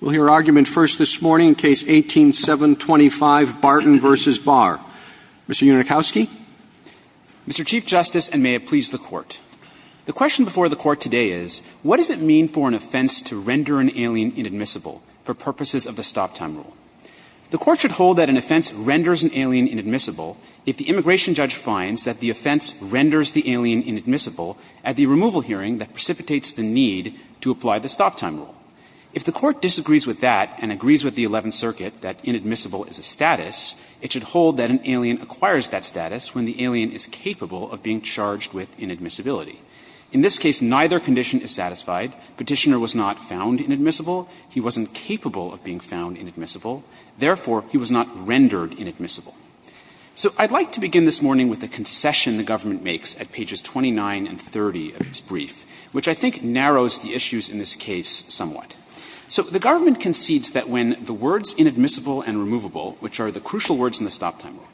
We'll hear argument first this morning in Case 18-725, Barton v. Barr. Mr. Unikowsky. Mr. Chief Justice, and may it please the Court, the question before the Court today is, what does it mean for an offense to render an alien inadmissible for purposes of the stop-time rule? The Court should hold that an offense renders an alien inadmissible if the immigration judge finds that the offense renders the alien inadmissible at the removal hearing that precipitates the need to apply the stop-time rule. If the Court disagrees with that and agrees with the Eleventh Circuit that inadmissible is a status, it should hold that an alien acquires that status when the alien is capable of being charged with inadmissibility. In this case, neither condition is satisfied. Petitioner was not found inadmissible. He wasn't capable of being found inadmissible. Therefore, he was not rendered inadmissible. So I'd like to begin this morning with the concession the government makes at pages 29 and 30 of its brief, which I think narrows the issues in this case somewhat. So the government concedes that when the words inadmissible and removable, which are the crucial words in the stop-time rule,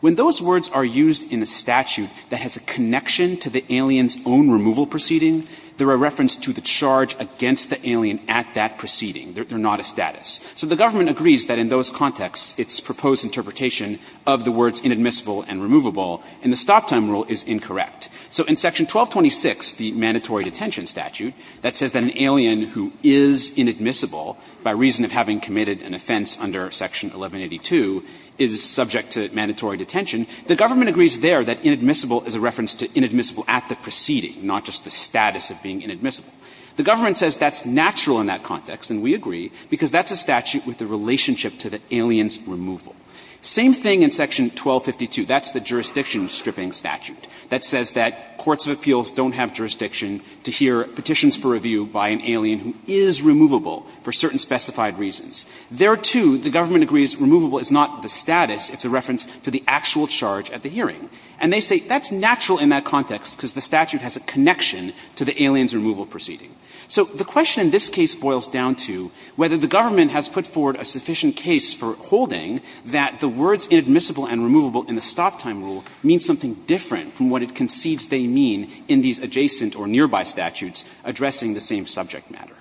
when those words are used in a statute that has a connection to the alien's own removal proceeding, they're a reference to the charge against the alien at that proceeding. They're not a status. So the government agrees that in those contexts, its proposed interpretation of the words inadmissible and removable in the stop-time rule is incorrect. So in Section 1226, the mandatory detention statute, that says that an alien who is inadmissible by reason of having committed an offense under Section 1182 is subject to mandatory detention, the government agrees there that inadmissible is a reference to inadmissible at the proceeding, not just the status of being inadmissible. The government says that's natural in that context, and we agree, because that's a statute with a relationship to the alien's removal. Same thing in Section 1252. That's the jurisdiction-stripping statute that says that courts of appeals don't have jurisdiction to hear petitions for review by an alien who is removable for certain specified reasons. There, too, the government agrees removable is not the status. It's a reference to the actual charge at the hearing. And they say that's natural in that context, because the statute has a connection to the alien's removal proceeding. So the question in this case boils down to whether the government has put forward a sufficient case for holding that the words inadmissible and removable in the stop-time rule mean something different from what it concedes they mean in these adjacent or nearby statutes addressing the same subject matter.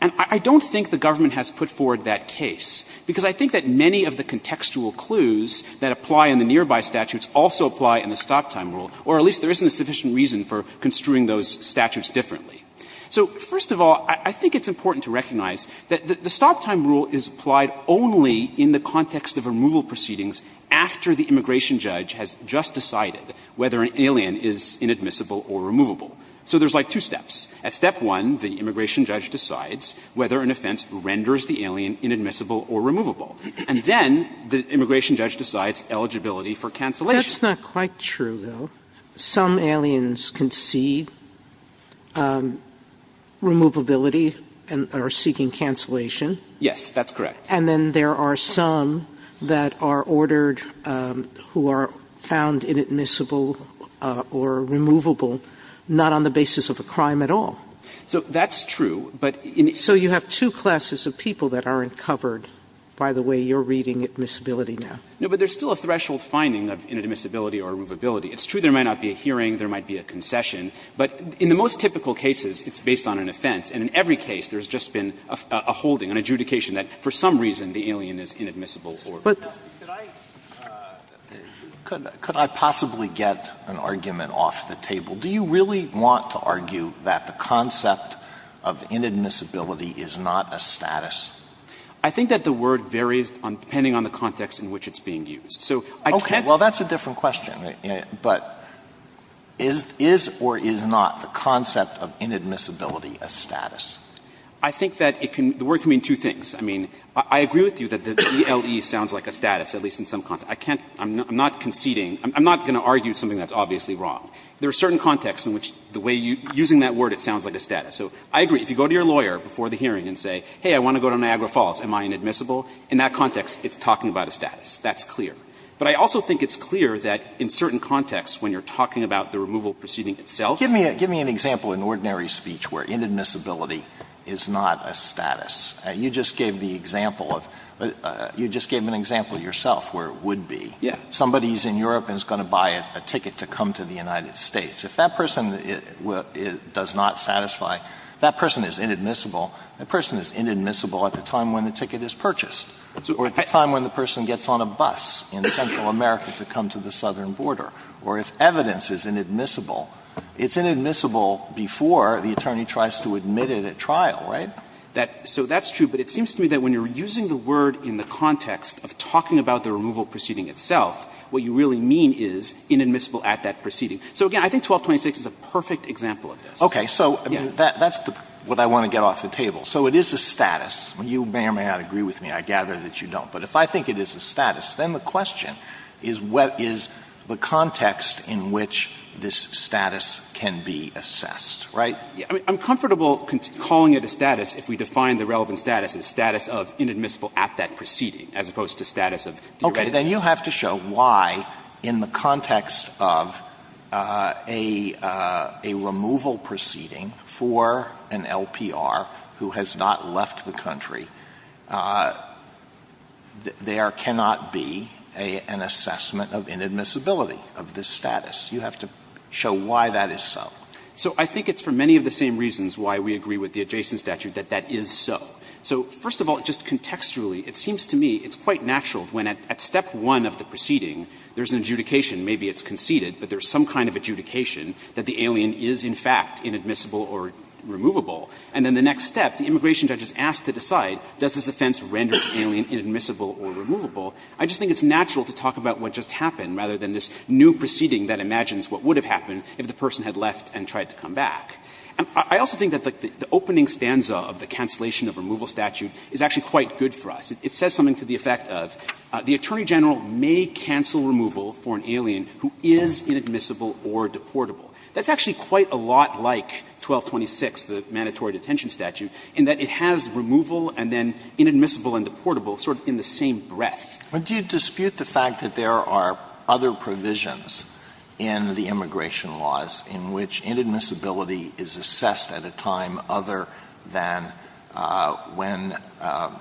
And I don't think the government has put forward that case, because I think that many of the contextual clues that apply in the nearby statutes also apply in the stop-time rule, or at least there isn't a sufficient reason for construing those statutes differently. So, first of all, I think it's important to recognize that the stop-time rule is applied only in the context of removal proceedings after the immigration judge has just decided whether an alien is inadmissible or removable. So there's like two steps. At step one, the immigration judge decides whether an offense renders the alien inadmissible or removable, and then the immigration judge decides eligibility for cancellation. Sotomayor That's not quite true, though. Some aliens concede removability and are seeking cancellation. Goldstein Yes, that's correct. Sotomayor And then there are some that are ordered who are found inadmissible or removable not on the basis of a crime at all. Goldstein So that's true, but in the Sotomayor So you have two classes of people that aren't covered by the way you're reading admissibility now. Goldstein No, but there's still a threshold finding of inadmissibility or removability. It's true there might not be a hearing, there might be a concession, but in the most typical cases it's based on an offense, and in every case there's just been a holding, an adjudication that for some reason the alien is inadmissible or removable. Alito Could I possibly get an argument off the table? Do you really want to argue that the concept of inadmissibility is not a status? Goldstein I think that the word varies depending on the context in which it's being used. So I can't say. Alito That's a different question, but is or is not the concept of inadmissibility a status? Goldstein I think that the word can mean two things. I mean, I agree with you that the ELE sounds like a status, at least in some context. I'm not conceding. I'm not going to argue something that's obviously wrong. There are certain contexts in which the way you're using that word, it sounds like a status. So I agree. If you go to your lawyer before the hearing and say, hey, I want to go to Niagara Falls, am I inadmissible? In that context, it's talking about a status. That's clear. But I also think it's clear that in certain contexts when you're talking about the removal proceeding itself. Alito Give me an example in ordinary speech where inadmissibility is not a status. You just gave the example of you just gave an example yourself where it would be. Somebody is in Europe and is going to buy a ticket to come to the United States. If that person does not satisfy, that person is inadmissible. That person is inadmissible at the time when the ticket is purchased or at the time when the person gets on a bus in Central America to come to the southern border. Or if evidence is inadmissible, it's inadmissible before the attorney tries to admit it at trial, right? So that's true. But it seems to me that when you're using the word in the context of talking about the removal proceeding itself, what you really mean is inadmissible at that proceeding. So again, I think 1226 is a perfect example of this. Okay. So that's what I want to get off the table. So it is a status. You may or may not agree with me. I gather that you don't. But if I think it is a status, then the question is what is the context in which this status can be assessed, right? I mean, I'm comfortable calling it a status if we define the relevant status as status of inadmissible at that proceeding as opposed to status of deregulation. Okay. Then you have to show why in the context of a removal proceeding for an LPR who has not left the country, there cannot be an assessment of inadmissibility of this status. You have to show why that is so. So I think it's for many of the same reasons why we agree with the adjacent statute that that is so. So first of all, just contextually, it seems to me it's quite natural when at step one of the proceeding, there's an adjudication, maybe it's conceded, but there's some kind of adjudication that the alien is, in fact, inadmissible or removable. And then the next step, the immigration judge is asked to decide, does this offense render the alien inadmissible or removable? I just think it's natural to talk about what just happened rather than this new proceeding that imagines what would have happened if the person had left and tried to come back. I also think that the opening stanza of the cancellation of removal statute is actually quite good for us. It says something to the effect of, the Attorney General may cancel removal for an alien who is inadmissible or deportable. That's actually quite a lot like 1226, the mandatory detention statute, in that it has removal and then inadmissible and deportable sort of in the same breath. Alitoso, but do you dispute the fact that there are other provisions in the immigration laws in which inadmissibility is assessed at a time other than when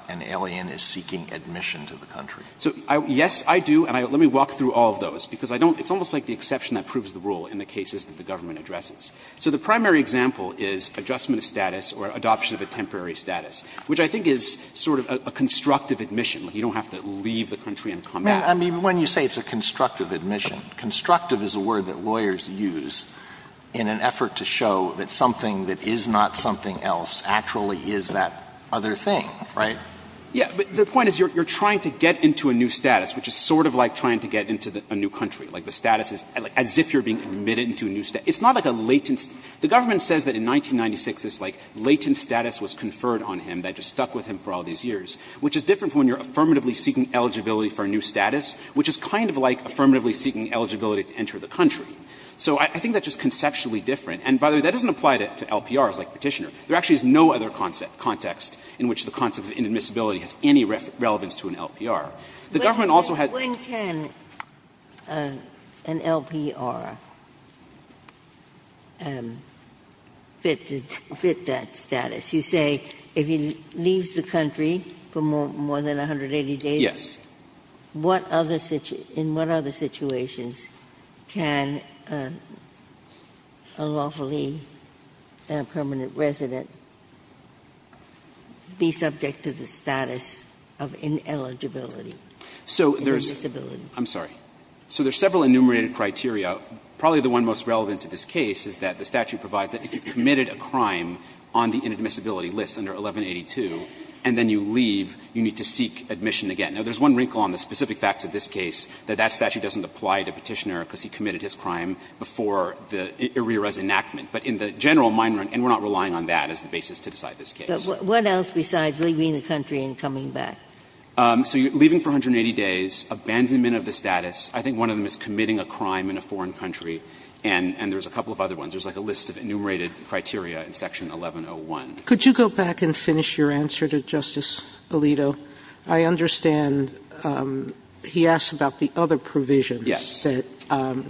an alien is seeking admission to the country? So, yes, I do. And let me walk through all of those, because I don't – it's almost like the exception that proves the rule in the cases that the government addresses. So the primary example is adjustment of status or adoption of a temporary status, which I think is sort of a constructive admission, like you don't have to leave the country and come back. I mean, when you say it's a constructive admission, constructive is a word that lawyers use in an effort to show that something that is not something else actually is that other thing, right? Yeah. But the point is you're trying to get into a new status, which is sort of like trying to get into a new country. Like, the status is as if you're being admitted into a new status. It's not like a latent – the government says that in 1996 this, like, latent status was conferred on him that just stuck with him for all these years, which is different from when you're affirmatively seeking eligibility for a new status, which is kind of like affirmatively seeking eligibility to enter the country. So I think that's just conceptually different. And, by the way, that doesn't apply to LPRs like Petitioner. There actually is no other context in which the concept of inadmissibility has any relevance to an LPR. The government also has – When can an LPR fit that status? You say if he leaves the country for more than 180 days? Yes. What other – in what other situations can a lawfully permanent resident be subject to the status of ineligibility? So there's – Inadmissibility. I'm sorry. So there's several enumerated criteria. Probably the one most relevant to this case is that the statute provides that if you've committed a crime on the inadmissibility list under 1182 and then you leave, you need to seek admission again. Now, there's one wrinkle on the specific facts of this case, that that statute doesn't apply to Petitioner because he committed his crime before the – Irira's enactment. But in the general mind run – and we're not relying on that as the basis to decide this case. But what else besides leaving the country and coming back? So you're leaving for 180 days, abandonment of the status. I think one of them is committing a crime in a foreign country, and there's a couple of other ones. There's like a list of enumerated criteria in Section 1101. Could you go back and finish your answer to Justice Alito? I understand he asked about the other provisions that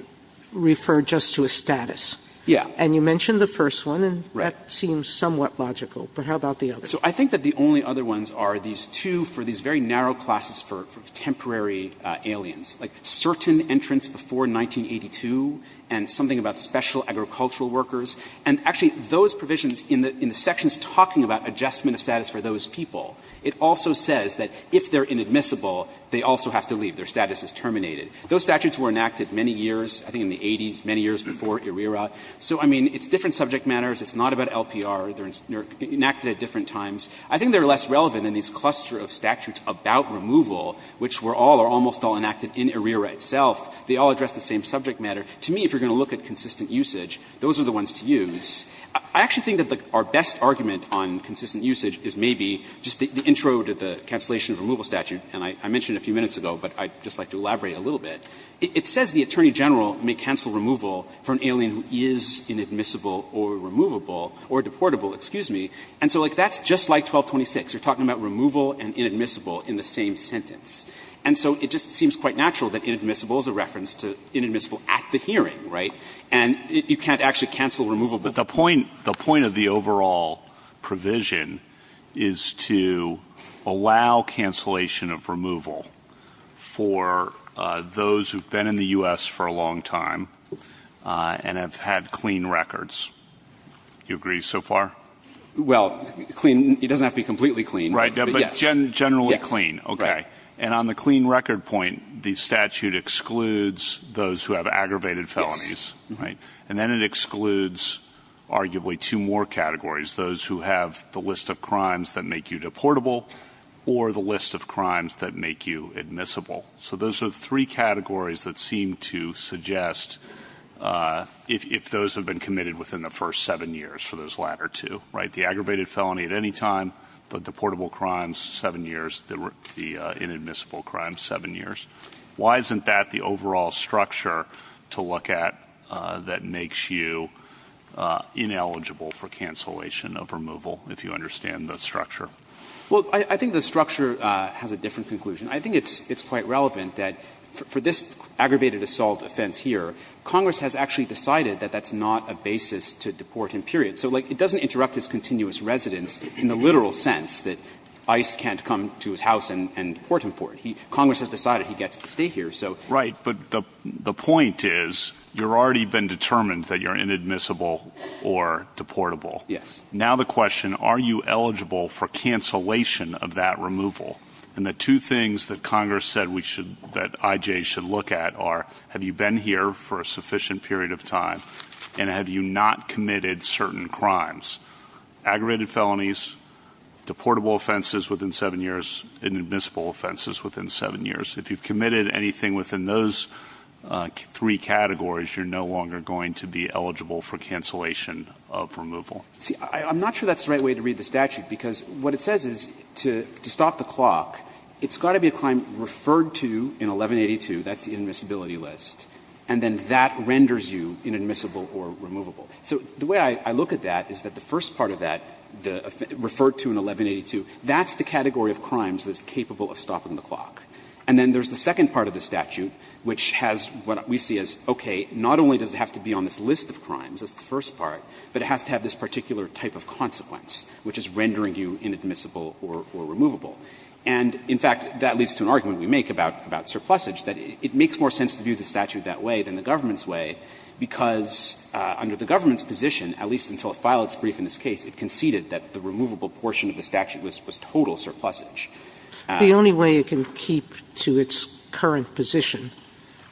refer just to a status. Yeah. And you mentioned the first one, and that seems somewhat logical. But how about the other? So I think that the only other ones are these two for these very narrow classes for temporary aliens, like certain entrance before 1982 and something about special agricultural workers. And actually, those provisions in the sections talking about adjustment of status for those people, it also says that if they're inadmissible, they also have to leave. Their status is terminated. Those statutes were enacted many years, I think in the 80s, many years before Irira. So, I mean, it's different subject matters. It's not about LPR. They're enacted at different times. I think they're less relevant in these cluster of statutes about removal, which were all or almost all enacted in Irira itself. They all address the same subject matter. To me, if you're going to look at consistent usage, those are the ones to use. I actually think that our best argument on consistent usage is maybe just the intro to the cancellation of removal statute. And I mentioned a few minutes ago, but I'd just like to elaborate a little bit. It says the Attorney General may cancel removal for an alien who is inadmissible or removable or deportable, excuse me. And so, like, that's just like 1226. You're talking about removal and inadmissible in the same sentence. And so it just seems quite natural that inadmissible is a reference to inadmissible at the hearing, right? And you can't actually cancel removable. But the point of the overall provision is to allow cancellation of removal for those who've been in the U.S. for a long time and have had clean records. Do you agree so far? Well, clean, it doesn't have to be completely clean. Right, but generally clean, okay. And on the clean record point, the statute excludes those who have aggravated felonies. And then it excludes arguably two more categories, those who have the list of crimes that make you deportable or the list of crimes that make you admissible. So those are three categories that seem to suggest if those have been committed within the first seven years for those latter two, right? The aggravated felony at any time, the deportable crimes seven years, the inadmissible crimes seven years. Why isn't that the overall structure to look at that makes you ineligible for cancellation of removal, if you understand the structure? Well, I think the structure has a different conclusion. I think it's quite relevant that for this aggravated assault offense here, Congress has actually decided that that's not a basis to deport him, period. So, like, it doesn't interrupt his continuous residence in the literal sense that ICE can't come to his house and deport him for it. Congress has decided he gets to stay here, so. Right, but the point is you've already been determined that you're inadmissible or deportable. Yes. Now the question, are you eligible for cancellation of that removal? And the two things that Congress said we should, that IJ should look at are, have you been here for a sufficient period of time? And have you not committed certain crimes? Aggravated felonies, deportable offenses within seven years, inadmissible offenses within seven years. If you've committed anything within those three categories, you're no longer going to be eligible for cancellation of removal. See, I'm not sure that's the right way to read the statute, because what it says is to stop the clock, it's got to be a crime referred to in 1182. That's the inadmissibility list. And then that renders you inadmissible or removable. So the way I look at that is that the first part of that, referred to in 1182, that's the category of crimes that's capable of stopping the clock. And then there's the second part of the statute, which has what we see as, okay, not only does it have to be on this list of crimes, that's the first part, but it has to have this particular type of consequence, which is rendering you inadmissible or removable. And, in fact, that leads to an argument we make about surplusage, that it makes more sense to view the statute that way than the government's way, because under the government's position, at least until it filed its brief in this case, it conceded that the removable portion of the statute was total surplusage. Sotomayor, The only way it can keep to its current position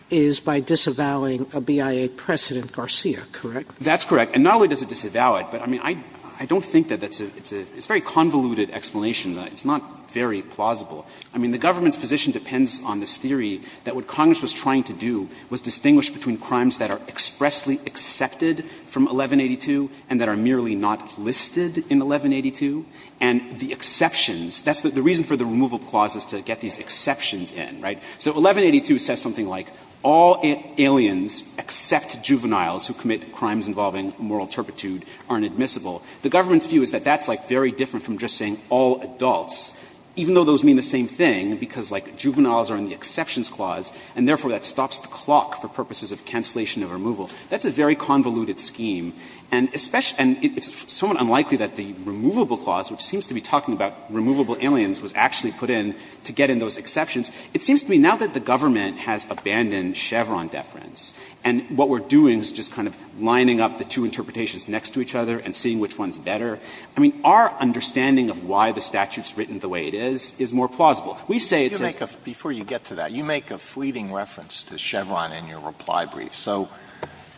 is by disavowing a BIA precedent, Garcia, correct? That's correct. And not only does it disavow it, but I mean, I don't think that it's a very convoluted explanation. It's not very plausible. I mean, the government's position depends on this theory that what Congress was trying to do was distinguish between crimes that are expressly accepted from 1182 and that are merely not listed in 1182, and the exceptions. That's the reason for the removal clause is to get these exceptions in, right? So 1182 says something like all aliens except juveniles who commit crimes involving moral turpitude are inadmissible. The government's view is that that's, like, very different from just saying all adults, even though those mean the same thing, because, like, juveniles are in the exceptions clause, and therefore that stops the clock for purposes of cancellation of removal. That's a very convoluted scheme. And it's somewhat unlikely that the removable clause, which seems to be talking about removable aliens, was actually put in to get in those exceptions. It seems to me now that the government has abandoned Chevron deference and what we're doing is just kind of lining up the two interpretations next to each other and seeing which one's better. I mean, our understanding of why the statute's written the way it is is more plausible. We say it's a — Alito, before you get to that, you make a fleeting reference to Chevron in your reply brief. So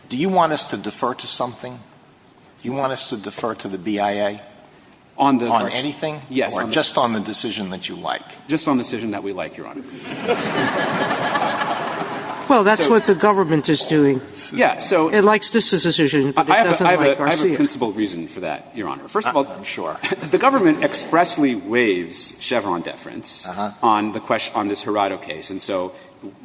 do you want us to defer to something? Do you want us to defer to the BIA on anything or just on the decision that you like? Just on the decision that we like, Your Honor. Well, that's what the government is doing. Yeah. So it likes this decision, but it doesn't like Garcia's. I have a principal reason for that, Your Honor. First of all, the government expressly waives Chevron deference on this Gerardo case. And so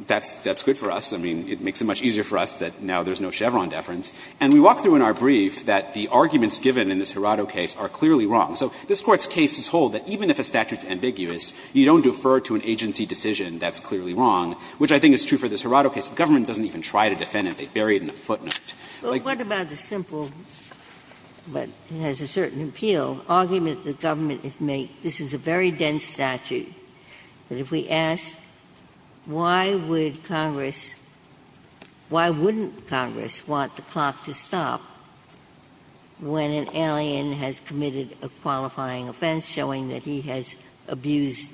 that's good for us. I mean, it makes it much easier for us that now there's no Chevron deference. And we walk through in our brief that the arguments given in this Gerardo case are clearly wrong. So this Court's case is whole, that even if a statute's ambiguous, you don't defer to an agency decision, that's clearly wrong, which I think is true for this Gerardo case. The government doesn't even try to defend it. They bury it in a footnote. Like, what about the simple, but it has a certain appeal, argument that government has made, this is a very dense statute, but if we ask why would Congress, why wouldn't Congress want the clock to stop when an alien has committed a qualifying offense showing that he has abused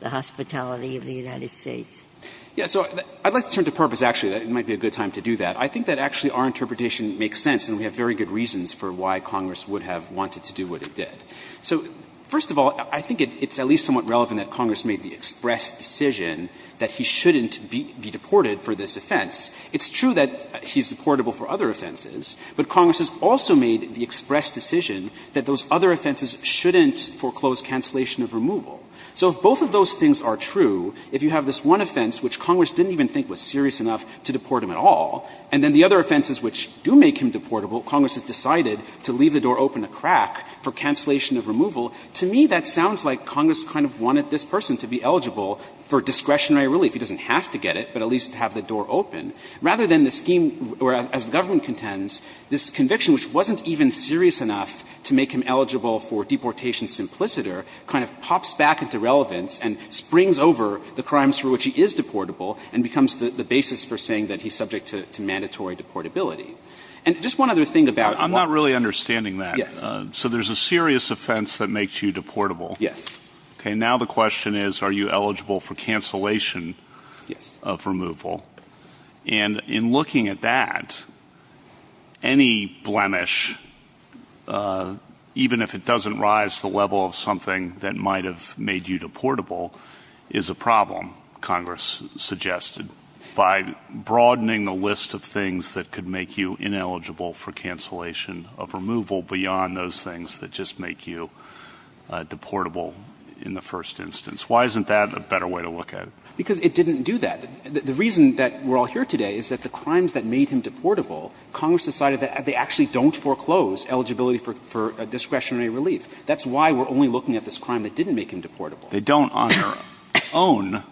the hospitality of the United States? Yeah. So I'd like to turn to Purpose, actually, that it might be a good time to do that. I think that actually our interpretation makes sense, and we have very good reasons for why Congress would have wanted to do what it did. So first of all, I think it's at least somewhat relevant that Congress made the express decision that he shouldn't be deported for this offense. It's true that he's deportable for other offenses, but Congress has also made the express decision that those other offenses shouldn't foreclose cancellation of removal. So if both of those things are true, if you have this one offense which Congress didn't even think was serious enough to deport him at all, and then the other offenses which do make him deportable, Congress has decided to leave the door open a crack for cancellation of removal, to me that sounds like Congress kind of wanted this person to be eligible for discretionary relief. He doesn't have to get it, but at least to have the door open, rather than the scheme where, as the government contends, this conviction which wasn't even serious enough to make him eligible for deportation simpliciter kind of pops back into relevance and springs over the crimes for which he is deportable and becomes the basis for saying that he's subject to mandatory deportability. And just one other thing about what one of the reasons why Congress made the express decision that those other offenses shouldn't foreclose cancellation of removal is that any blemish, even if it doesn't rise to the level of something that might have made you deportable, is a problem, Congress suggested, by broadening the list of things that could make you ineligible for cancellation of removal beyond those things that just make you deportable in the first instance. Why isn't that a better way to look at it? Because it didn't do that. The reason that we're all here today is that the crimes that made him deportable, Congress decided that they actually don't foreclose eligibility for discretionary relief. That's why we're only looking at this crime that didn't make him deportable. They don't on their own,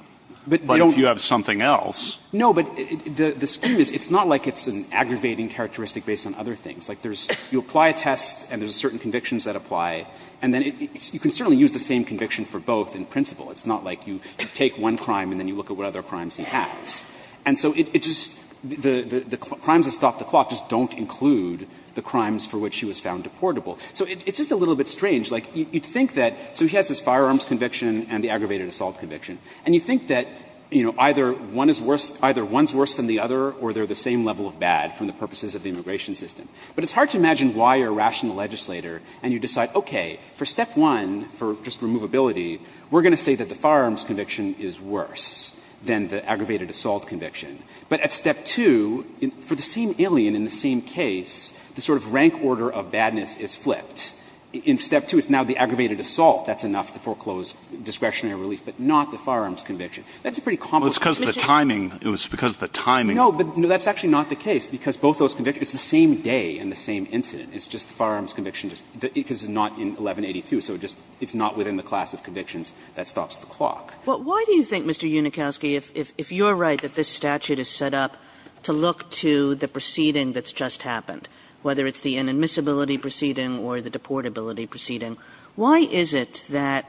but if you have something else. No, but the scheme is, it's not like it's an aggravating characteristic based on other things. Like, there's you apply a test and there's certain convictions that apply, and then you can certainly use the same conviction for both in principle. It's not like you take one crime and then you look at what other crimes he has. And so it just, the crimes that stop the clock just don't include the crimes for which he was found deportable. So it's just a little bit strange. Like, you'd think that, so he has his firearms conviction and the aggravated assault conviction. And you think that, you know, either one is worse, either one's worse than the other or they're the same level of bad from the purposes of the immigration system. But it's hard to imagine why a rational legislator and you decide, okay, for step one, for just removability, we're going to say that the firearms conviction is worse than the aggravated assault conviction. But at step two, for the same alien in the same case, the sort of rank order of badness is flipped. In step two, it's now the aggravated assault. That's enough to foreclose discretionary relief, but not the firearms conviction. That's a pretty complex condition. Well, it's because of the timing. It was because of the timing. No, but that's actually not the case, because both those convictions, it's the same day and the same incident. It's just the firearms conviction just, because it's not in 1182. So it's not within the class of convictions that stops the clock. Kagan. Kagan. Well, why do you think, Mr. Unikowsky, if you're right that this statute is set up to look to the proceeding that's just happened, whether it's the inadmissibility proceeding or the deportability proceeding, why is it that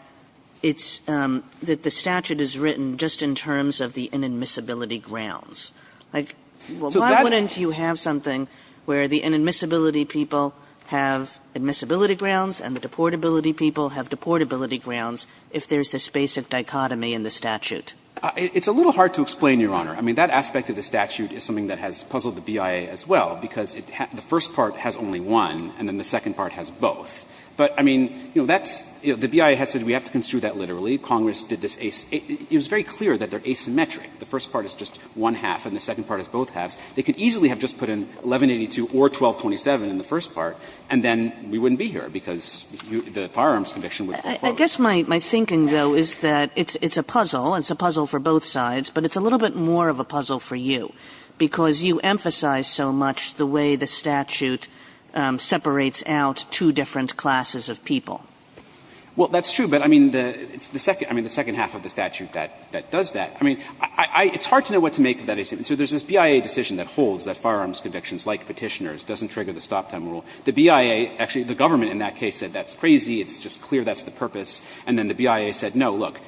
it's, that the statute is written just in terms of the inadmissibility grounds? Like, why wouldn't you have something where the inadmissibility people have admissibility grounds and the deportability people have deportability grounds if there's this basic dichotomy in the statute? It's a little hard to explain, Your Honor. I mean, that aspect of the statute is something that has puzzled the BIA as well, because the first part has only one and then the second part has both. But, I mean, you know, that's the BIA has said we have to construe that literally. Congress did this, it was very clear that they're asymmetric. The first part is just one half and the second part is both halves. They could easily have just put in 1182 or 1227 in the first part and then we wouldn't be here because the firearms conviction would be closed. Kagan. I guess my thinking, though, is that it's a puzzle. It's a puzzle for both sides, but it's a little bit more of a puzzle for you because you emphasize so much the way the statute separates out two different classes of people. Well, that's true, but, I mean, it's the second half of the statute that does that. I mean, it's hard to know what to make of that. So there's this BIA decision that holds that firearms convictions, like Petitioners, doesn't trigger the stop time rule. The BIA, actually the government in that case said that's crazy, it's just clear that's the purpose, and then the BIA said, no, look,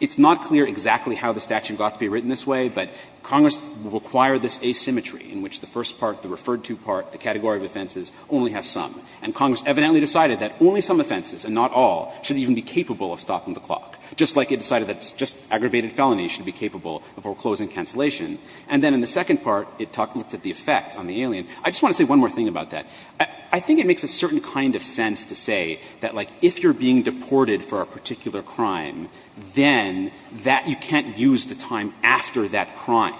it's not clear exactly how the statute got to be written this way, but Congress required this asymmetry in which the first part, the referred to part, the category of offenses only has some. And Congress evidently decided that only some offenses and not all should even be capable of stopping the clock, just like it decided that just aggravated felonies should be capable of foreclosing cancellation. And then in the second part, it looked at the effect on the alien. I just want to say one more thing about that. I think it makes a certain kind of sense to say that, like, if you're being deported for a particular crime, then that you can't use the time after that crime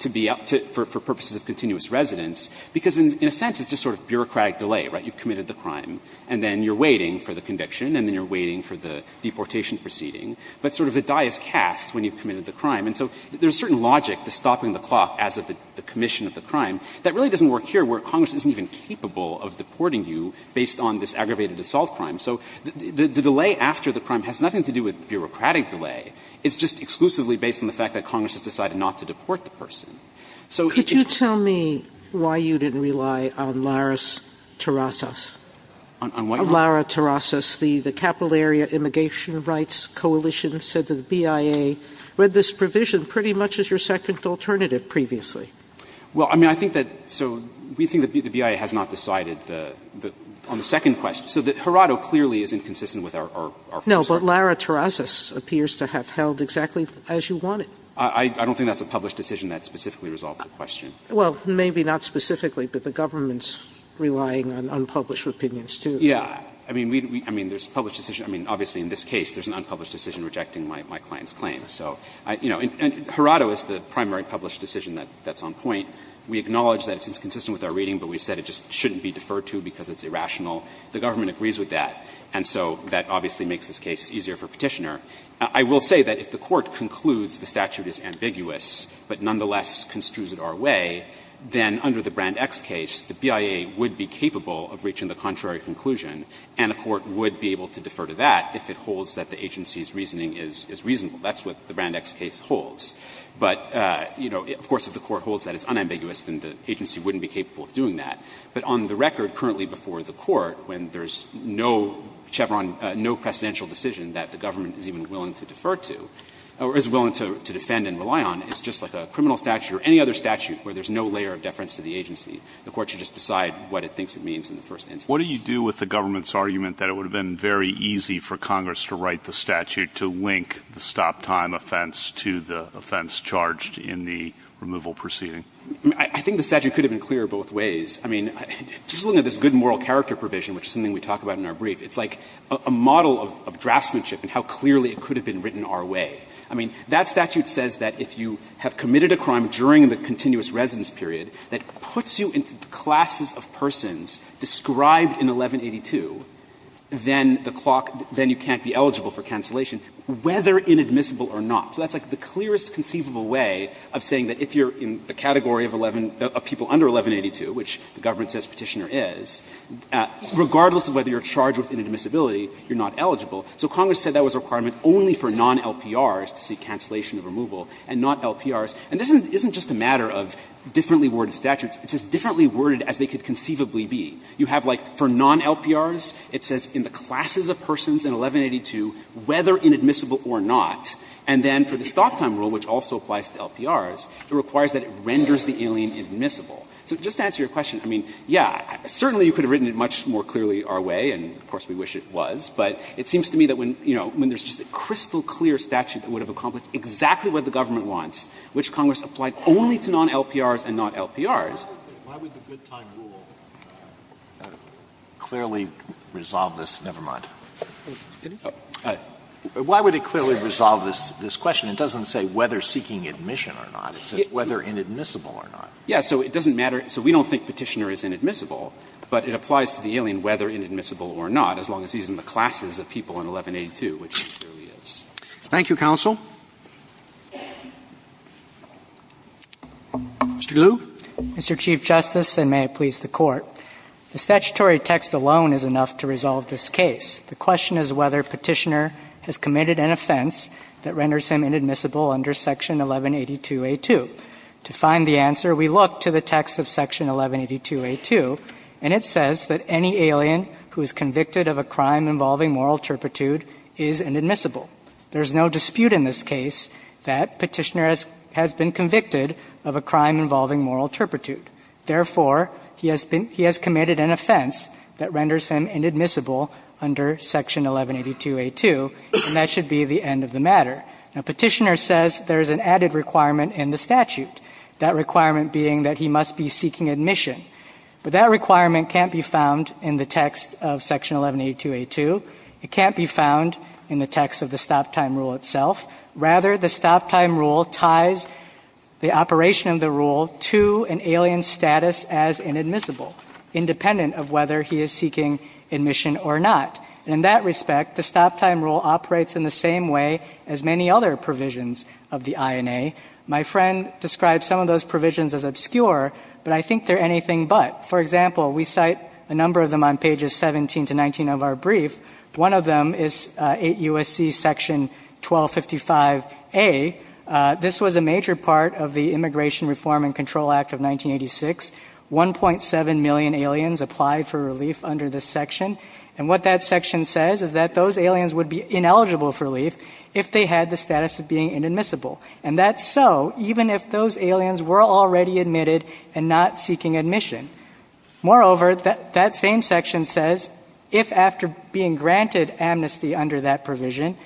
to be up to – for purposes of continuous residence, because in a sense it's just sort of bureaucratic delay, right? You've committed the crime, and then you're waiting for the conviction, and then you're waiting for the deportation proceeding. But sort of the die is cast when you've committed the crime. And so there's a certain logic to stopping the clock as of the commission of the crime that really doesn't work here, where Congress isn't even capable of deporting you based on this aggravated assault crime. So the delay after the crime has nothing to do with bureaucratic delay. It's just exclusively based on the fact that Congress has decided not to deport So it's just— Sotomayor, could you tell me why you didn't rely on Laris Tirasas? On what? Lara Tirasas, the Capital Area Immigration Rights Coalition said that the BIA read this provision pretty much as your second alternative previously. Well, I mean, I think that – so we think that the BIA has not decided the – on the second question. So that Hirado clearly isn't consistent with our first argument. No, but Lara Tirasas appears to have held exactly as you wanted. I don't think that's a published decision that specifically resolved the question. Well, maybe not specifically, but the government's relying on unpublished opinions, too. Yeah. I mean, there's a published decision. I mean, obviously in this case there's an unpublished decision rejecting my client's claim. So, you know, and Hirado is the primary published decision that's on point. We acknowledge that it's inconsistent with our reading, but we said it just shouldn't be deferred to because it's irrational. The government agrees with that. And so that obviously makes this case easier for Petitioner. I will say that if the Court concludes the statute is ambiguous, but nonetheless construes it our way, then under the Brand X case, the BIA would be capable of reaching the contrary conclusion, and a court would be able to defer to that if it holds that the agency's reasoning is reasonable. That's what the Brand X case holds. But, you know, of course, if the Court holds that it's unambiguous, then the agency wouldn't be capable of doing that. But on the record, currently before the Court, when there's no Chevron, no presidential decision that the government is even willing to defer to, or is willing to defend and rely on, it's just like a criminal statute or any other statute where there's no layer of deference to the agency. The Court should just decide what it thinks it means in the first instance. What do you do with the government's argument that it would have been very easy for Congress to write the statute to link the stop-time offense to the offense charged in the removal proceeding? I mean, I think the statute could have been clear both ways. I mean, just looking at this good moral character provision, which is something we talk about in our brief, it's like a model of draftsmanship and how clearly it could have been written our way. I mean, that statute says that if you have committed a crime during the continuous residence period that puts you into the classes of persons described in 1182, then the clock, then you can't be eligible for cancellation, whether inadmissible or not. So that's like the clearest conceivable way of saying that if you're in the category of 11, of people under 1182, which the government says Petitioner is, regardless of whether you're charged with inadmissibility, you're not eligible. So Congress said that was a requirement only for non-LPRs to seek cancellation of removal and not LPRs. And this isn't just a matter of differently worded statutes. It's as differently worded as they could conceivably be. You have like for non-LPRs, it says in the classes of persons in 1182, whether inadmissible or not. And then for the stop time rule, which also applies to LPRs, it requires that it renders the alien admissible. So just to answer your question, I mean, yeah, certainly you could have written it much more clearly our way, and of course we wish it was, but it seems to me that when, you know, when there's just a crystal clear statute that would have accomplished exactly what the government wants, which Congress applied only to non-LPRs and not LPRs. Why would the good time rule clearly resolve this? Never mind. Why would it clearly resolve this question? It doesn't say whether seeking admission or not. It says whether inadmissible or not. Yeah. So it doesn't matter. So we don't think Petitioner is inadmissible, but it applies to the alien whether inadmissible or not, as long as he's in the classes of people in 1182, which he clearly is. Thank you, counsel. Mr. glue. Mr. Chief Justice, and may it please the Court, the statutory text alone is enough to resolve this case. The question is whether Petitioner has committed an offense that renders him inadmissible under Section 1182a2. To find the answer, we look to the text of Section 1182a2, and it says that any alien who is convicted of a crime involving moral turpitude is inadmissible. There is no dispute in this case that Petitioner has been convicted of a crime involving moral turpitude. Therefore, he has been he has committed an offense that renders him inadmissible under Section 1182a2, and that should be the end of the matter. Now, Petitioner says there is an added requirement in the statute, that requirement being that he must be seeking admission. But that requirement can't be found in the text of Section 1182a2. It can't be found in the text of the stop-time rule itself. Rather, the stop-time rule ties the operation of the rule to an alien's status as inadmissible, independent of whether he is seeking admission or not. In that respect, the stop-time rule operates in the same way as many other provisions of the INA. My friend describes some of those provisions as obscure, but I think they're anything but. For example, we cite a number of them on pages 17 to 19 of our brief. One of them is 8 U.S.C. Section 1255a. This was a major part of the Immigration Reform and Control Act of 1986. 1.7 million aliens applied for relief under this section, and what that section says is that those aliens would be ineligible for relief if they had the status of being inadmissible. And that's so even if those aliens were already admitted and not seeking admission. Moreover, that same section says if after being granted amnesty under that provision,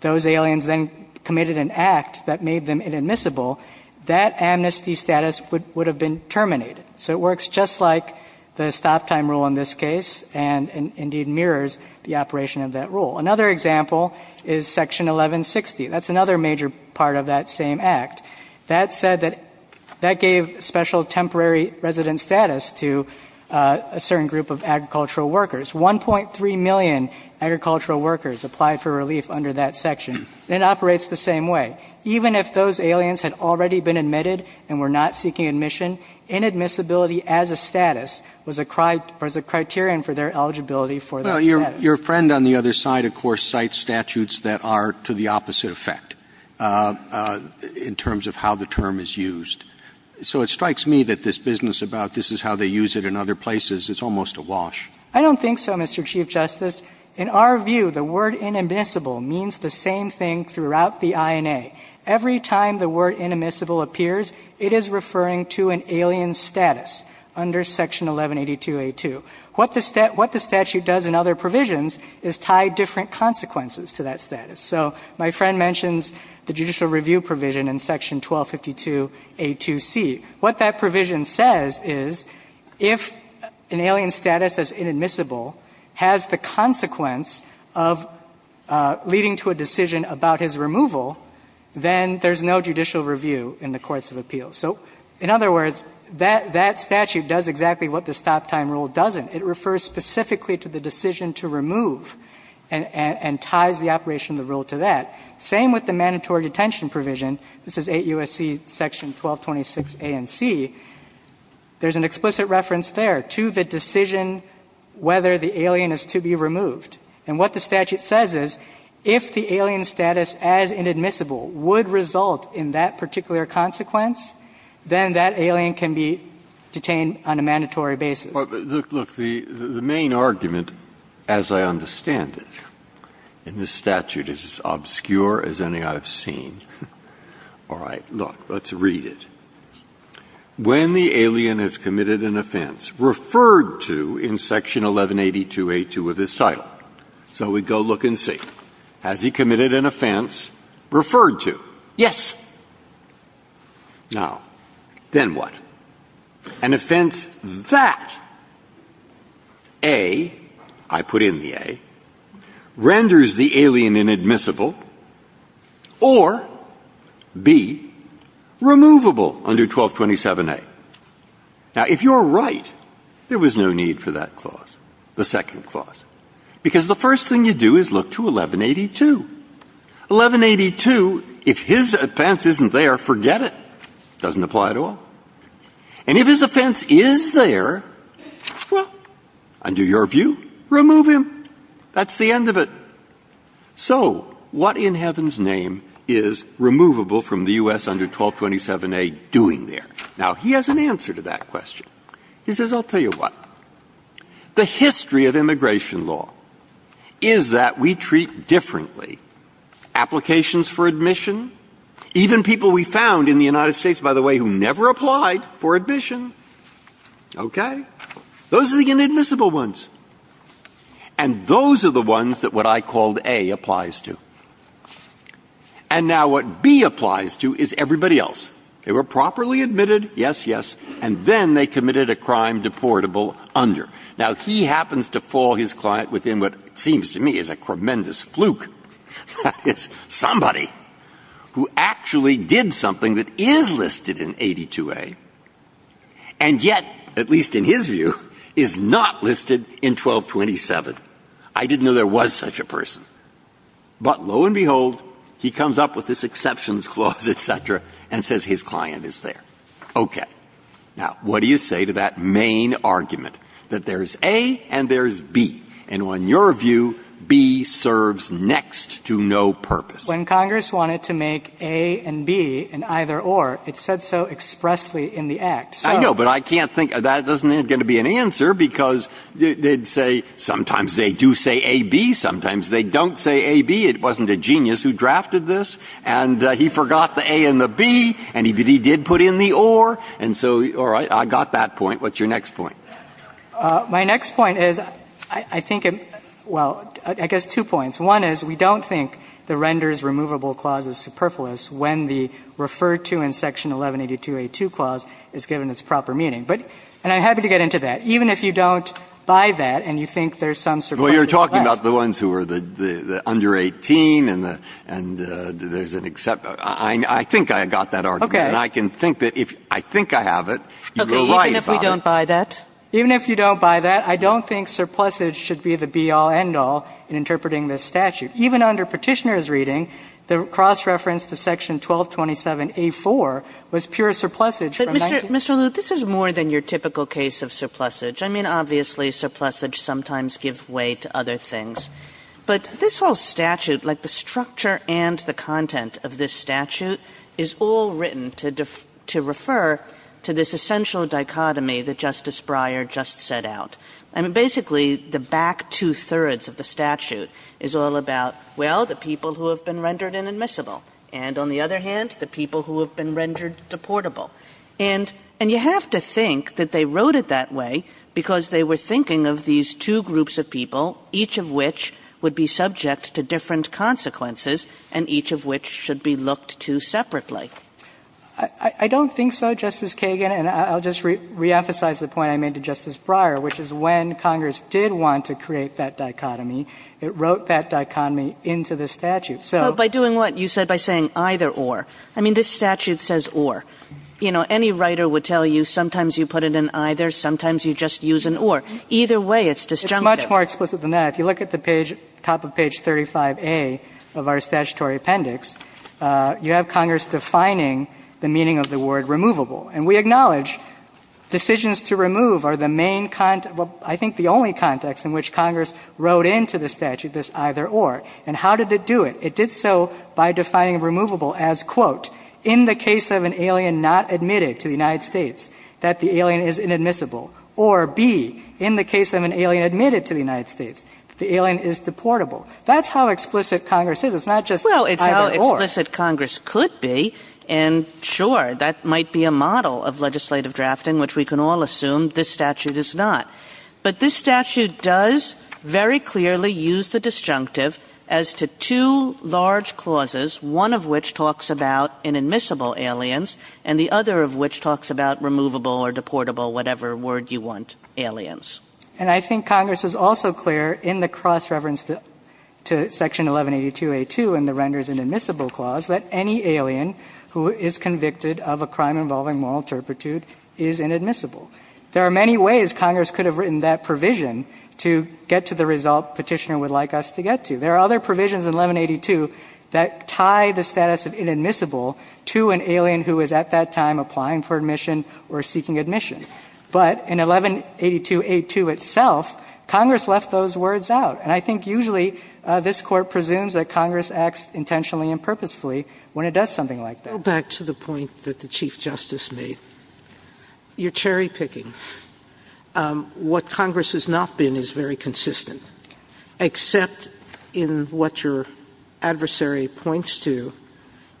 those aliens then committed an act that made them inadmissible, that amnesty status would have been terminated. So it works just like the stop-time rule in this case, and indeed mirrors the operation of that rule. Another example is Section 1160. That's another major part of that same act. That said that that gave special temporary resident status to a certain group of agricultural workers. 1.3 million agricultural workers applied for relief under that section, and it operates the same way. Even if those aliens had already been admitted and were not seeking admission, inadmissibility as a status was a criterion for their eligibility for that status. But your friend on the other side, of course, cites statutes that are to the opposite effect in terms of how the term is used. So it strikes me that this business about this is how they use it in other places, it's almost a wash. I don't think so, Mr. Chief Justice. In our view, the word inadmissible means the same thing throughout the INA. Every time the word inadmissible appears, it is referring to an alien status under Section 1182a2. What the statute does in other provisions is tie different consequences to that status. So my friend mentions the judicial review provision in Section 1252a2c. What that provision says is if an alien status as inadmissible has the consequence of leading to a decision about his removal, then there's no judicial review in the courts of appeals. So in other words, that statute does exactly what the stop-time rule doesn't. It refers specifically to the decision to remove and ties the operation of the rule to that. Same with the mandatory detention provision. This is 8 U.S.C. Section 1226a and c. There's an explicit reference there to the decision whether the alien is to be removed. And what the statute says is if the alien status as inadmissible would result in that particular consequence, then that alien can be detained on a mandatory basis. Breyer. Look, the main argument, as I understand it, in this statute is as obscure as any I have seen. All right. Look. Let's read it. When the alien has committed an offense referred to in Section 1182a2 of this title. So we go look and see. Has he committed an offense referred to? Yes. Now, then what? An offense that, A, I put in the A, renders the alien inadmissible or, B, removable under 1227a. Now, if you're right, there was no need for that clause, the second clause. Because the first thing you do is look to 1182. 1182, if his offense isn't there, forget it. It doesn't apply at all. And if his offense is there, well, under your view, remove him. That's the end of it. So what in heaven's name is removable from the U.S. under 1227a doing there? Now, he has an answer to that question. He says, I'll tell you what. The history of immigration law is that we treat differently applications for admission. Even people we found in the United States, by the way, who never applied for admission. Okay? Those are the inadmissible ones. And those are the ones that what I called A applies to. And now what B applies to is everybody else. They were properly admitted, yes, yes. And then they committed a crime deportable under. Now, he happens to fall his client within what seems to me is a tremendous fluke. That is, somebody who actually did something that is listed in 82a, and yet, at least in his view, is not listed in 1227. I didn't know there was such a person. But lo and behold, he comes up with this exceptions clause, et cetera, and says his client is there. Okay. Now, what do you say to that main argument, that there's A and there's B? And in your view, B serves next to no purpose. When Congress wanted to make A and B an either or, it said so expressly in the Act. I know, but I can't think of that. That's not going to be an answer, because they'd say sometimes they do say AB, sometimes they don't say AB. It wasn't a genius who drafted this. And he forgot the A and the B. And he did put in the or. And so, all right, I got that point. What's your next point? My next point is, I think, well, I guess two points. One is, we don't think the Renders Removable Clause is superfluous when the referred to in Section 1182a2 clause is given its proper meaning. But, and I'm happy to get into that. Even if you don't buy that and you think there's some superfluous left. Well, you're talking about the ones who are the under 18 and there's an exception. I think I got that argument. And I can think that if I think I have it, you're right about it. Even if you don't buy that? Even if you don't buy that, I don't think surplusage should be the be-all, end-all in interpreting this statute. Even under Petitioner's reading, the cross-reference to Section 1227a4 was pure surplusage from 19. But, Mr. Lew, this is more than your typical case of surplusage. I mean, obviously, surplusage sometimes gives way to other things. But this whole statute, like the structure and the content of this statute, is all written to defer, to refer to this essential dichotomy that Justice Breyer just set out. I mean, basically, the back two-thirds of the statute is all about, well, the people who have been rendered inadmissible. And on the other hand, the people who have been rendered deportable. And, and you have to think that they wrote it that way because they were thinking of these two groups of people, each of which would be subject to different consequences and each of which should be looked to separately. I don't think so, Justice Kagan. And I'll just reemphasize the point I made to Justice Breyer, which is when Congress did want to create that dichotomy, it wrote that dichotomy into the statute. So by doing what? You said by saying either or. I mean, this statute says or. You know, any writer would tell you sometimes you put it in either, sometimes you just use an or. Either way, it's disjunctive. It's much more explicit than that. If you look at the page, top of page 35A of our statutory appendix, you have Congress defining the meaning of the word removable. And we acknowledge decisions to remove are the main, I think the only context in which Congress wrote into the statute this either or. And how did it do it? It did so by defining removable as, quote, in the case of an alien not admitted to the United States, that the alien is inadmissible, or B, in the case of an alien admitted to the United States, the alien is deportable. That's how explicit Congress is. It's not just either or. Well, it's how explicit Congress could be. And sure, that might be a model of legislative drafting, which we can all assume this statute is not. But this statute does very clearly use the disjunctive as to two large clauses, one of which talks about inadmissible aliens, and the other of which talks about removable or deportable, whatever word you want, aliens. And I think Congress was also clear in the cross-reference to Section 1182a2 in the renders inadmissible clause that any alien who is convicted of a crime involving moral turpitude is inadmissible. There are many ways Congress could have written that provision to get to the result Petitioner would like us to get to. There are other provisions in 1182 that tie the status of inadmissible to an alien who is at that time applying for admission or seeking admission. But in 1182a2 itself, Congress left those words out. And I think usually this Court presumes that Congress acts intentionally and purposefully when it does something like that. Sotomayor, back to the point that the Chief Justice made, you're cherry-picking. What Congress has not been is very consistent, except in what your adversary points to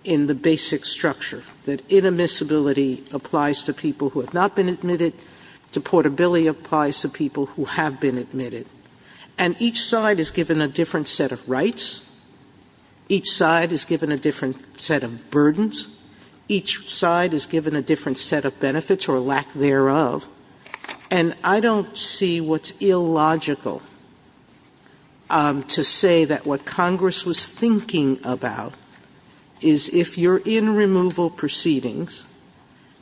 in the basic structure, that inadmissibility applies to people who have not been admitted, deportability applies to people who have been admitted. And each side is given a different set of rights. Each side is given a different set of burdens. Each side is given a different set of benefits or lack thereof. And I don't see what's illogical to say that what Congress was thinking about is if you're in removal proceedings,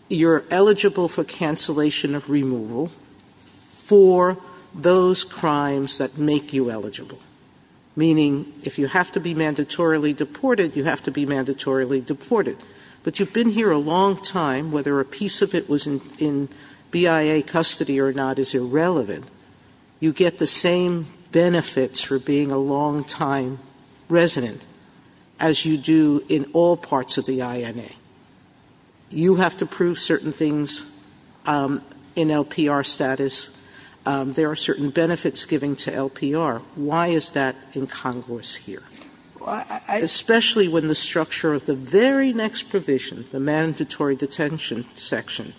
you're eligible for cancellation of removal for those crimes that make you eligible. Meaning, if you have to be mandatorily deported, you have to be mandatorily deported. But you've been here a long time. Whether a piece of it was in BIA custody or not is irrelevant. You get the same benefits for being a long-time resident as you do in all parts of the INA. You have to prove certain things in LPR status. There are certain benefits given to LPR. Why is that in Congress here? Especially when the structure of the very next provision, the mandatory detention section,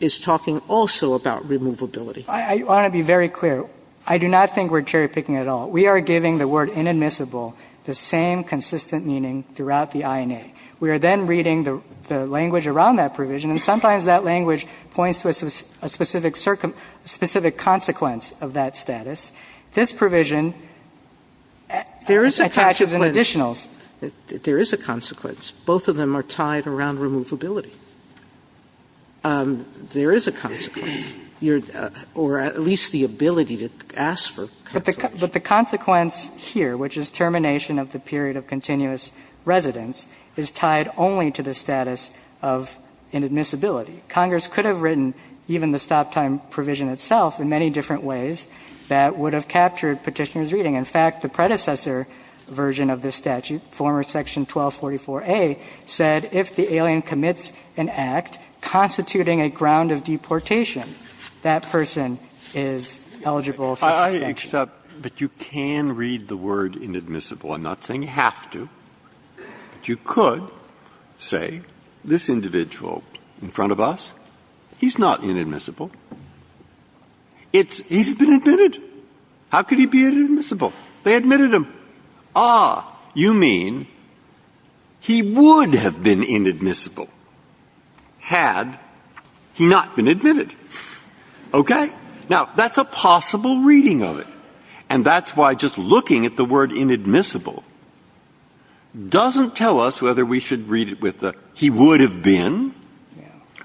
is talking also about removability. I want to be very clear. I do not think we're cherry-picking at all. We are giving the word inadmissible the same consistent meaning throughout the INA. We are then reading the language around that provision, and sometimes that language points to a specific consequence of that status. This provision attaches an additional. Sotomayor There is a consequence. Both of them are tied around removability. There is a consequence. Or at least the ability to ask for a consequence. But the consequence here, which is termination of the period of continuous residence, is tied only to the status of inadmissibility. Congress could have written even the stop-time provision itself in many different ways that would have captured Petitioner's reading. In fact, the predecessor version of this statute, former section 1244A, said if the alien commits an act constituting a ground of deportation, that person is eligible for suspension. Breyer But you can read the word inadmissible. I'm not saying you have to. But you could say this individual in front of us, he's not inadmissible. He's been admitted. How could he be inadmissible? They admitted him. Ah, you mean he would have been inadmissible had he not been admitted. Okay? Now, that's a possible reading of it. And that's why just looking at the word inadmissible doesn't tell us whether we should read it with the he would have been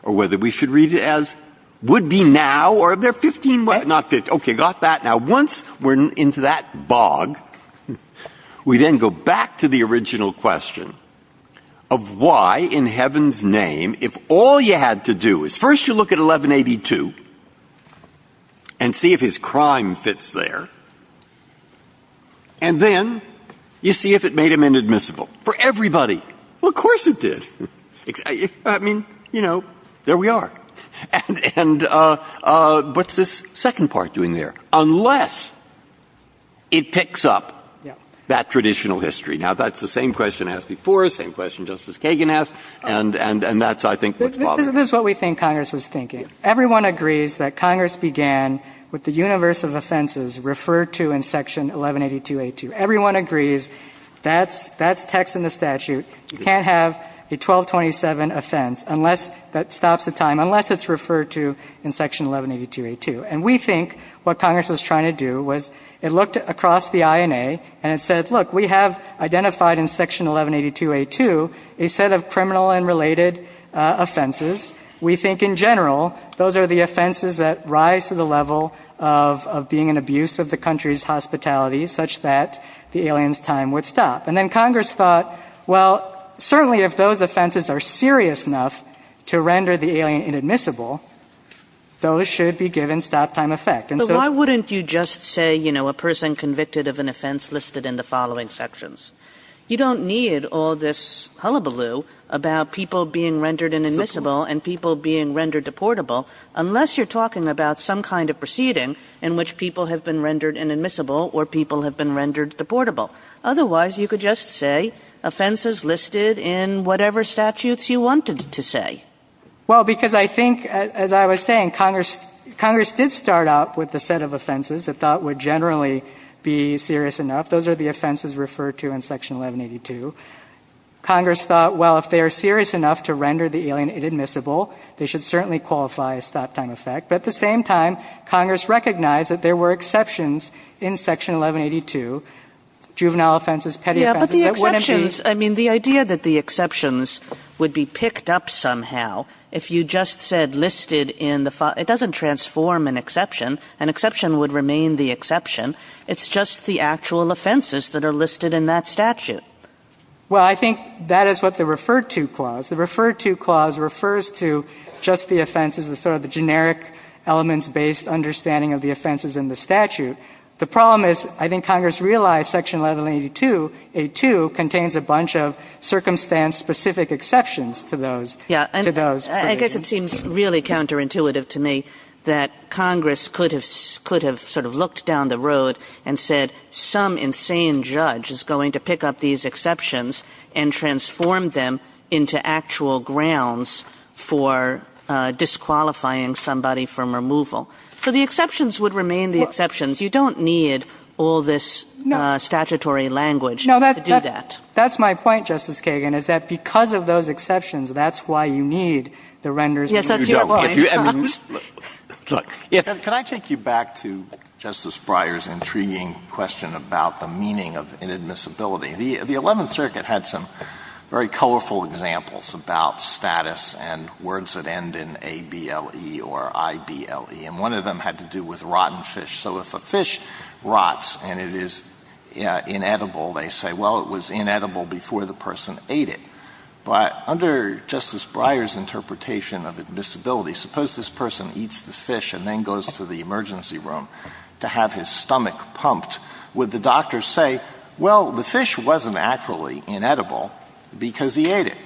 or whether we should read it as would he be now or if they're 15, not 50. Okay, got that. Now, once we're into that bog, we then go back to the original question of why in heaven's name, if all you had to do is first you look at 1182 and see if his crime fits there, and then you see if it made him inadmissible for everybody. Well, of course it did. I mean, you know, there we are. And what's this second part doing there? Unless it picks up that traditional history. Now, that's the same question asked before, the same question Justice Kagan asked, and that's, I think, what's bothering us. This is what we think Congress was thinking. Everyone agrees that Congress began with the universe of offenses referred to in Section 1182a2. Everyone agrees that's text in the statute. You can't have a 1227 offense unless that stops the time. Unless it's referred to in Section 1182a2. And we think what Congress was trying to do was it looked across the INA and it said, look, we have identified in Section 1182a2 a set of criminal and related offenses. We think in general, those are the offenses that rise to the level of being an abuse of the country's hospitality such that the alien's time would stop. And then Congress thought, well, certainly if those offenses are serious enough to render the alien inadmissible, those should be given stop-time effect. And so why wouldn't you just say, you know, a person convicted of an offense listed in the following sections? You don't need all this hullabaloo about people being rendered inadmissible and people being rendered deportable unless you're talking about some kind of proceeding in which people have been rendered inadmissible or people have been rendered deportable. Otherwise, you could just say offenses listed in whatever statutes you wanted to say. Well, because I think, as I was saying, Congress did start out with a set of offenses that thought would generally be serious enough. Those are the offenses referred to in Section 1182. Congress thought, well, if they are serious enough to render the alien inadmissible, they should certainly qualify as stop-time effect. But at the same time, Congress recognized that there were exceptions in Section 1182, juvenile offenses, petty offenses, that wouldn't be – if you just said listed in the – it doesn't transform an exception. An exception would remain the exception. It's just the actual offenses that are listed in that statute. Well, I think that is what the referred-to clause – the referred-to clause refers to just the offenses, the sort of the generic elements-based understanding of the offenses in the statute. The problem is, I think Congress realized Section 1182a2 contains a bunch of circumstance-specific exceptions to those – to those provisions. Yeah. I guess it seems really counterintuitive to me that Congress could have sort of looked down the road and said, some insane judge is going to pick up these exceptions and transform them into actual grounds for disqualifying somebody from removal. So the exceptions would remain the exceptions. You don't need all this statutory language to do that. That's my point, Justice Kagan, is that because of those exceptions, that's why you need the renders. Yes, that's your point. I mean, look. Can I take you back to Justice Breyer's intriguing question about the meaning of inadmissibility? The Eleventh Circuit had some very colorful examples about status and words that end in A-B-L-E or I-B-L-E, and one of them had to do with rotten fish. So if a fish rots and it is inedible, they say, well, it was inedible before the person ate it. But under Justice Breyer's interpretation of admissibility, suppose this person eats the fish and then goes to the emergency room to have his stomach pumped. Would the doctor say, well, the fish wasn't actually inedible because he ate it?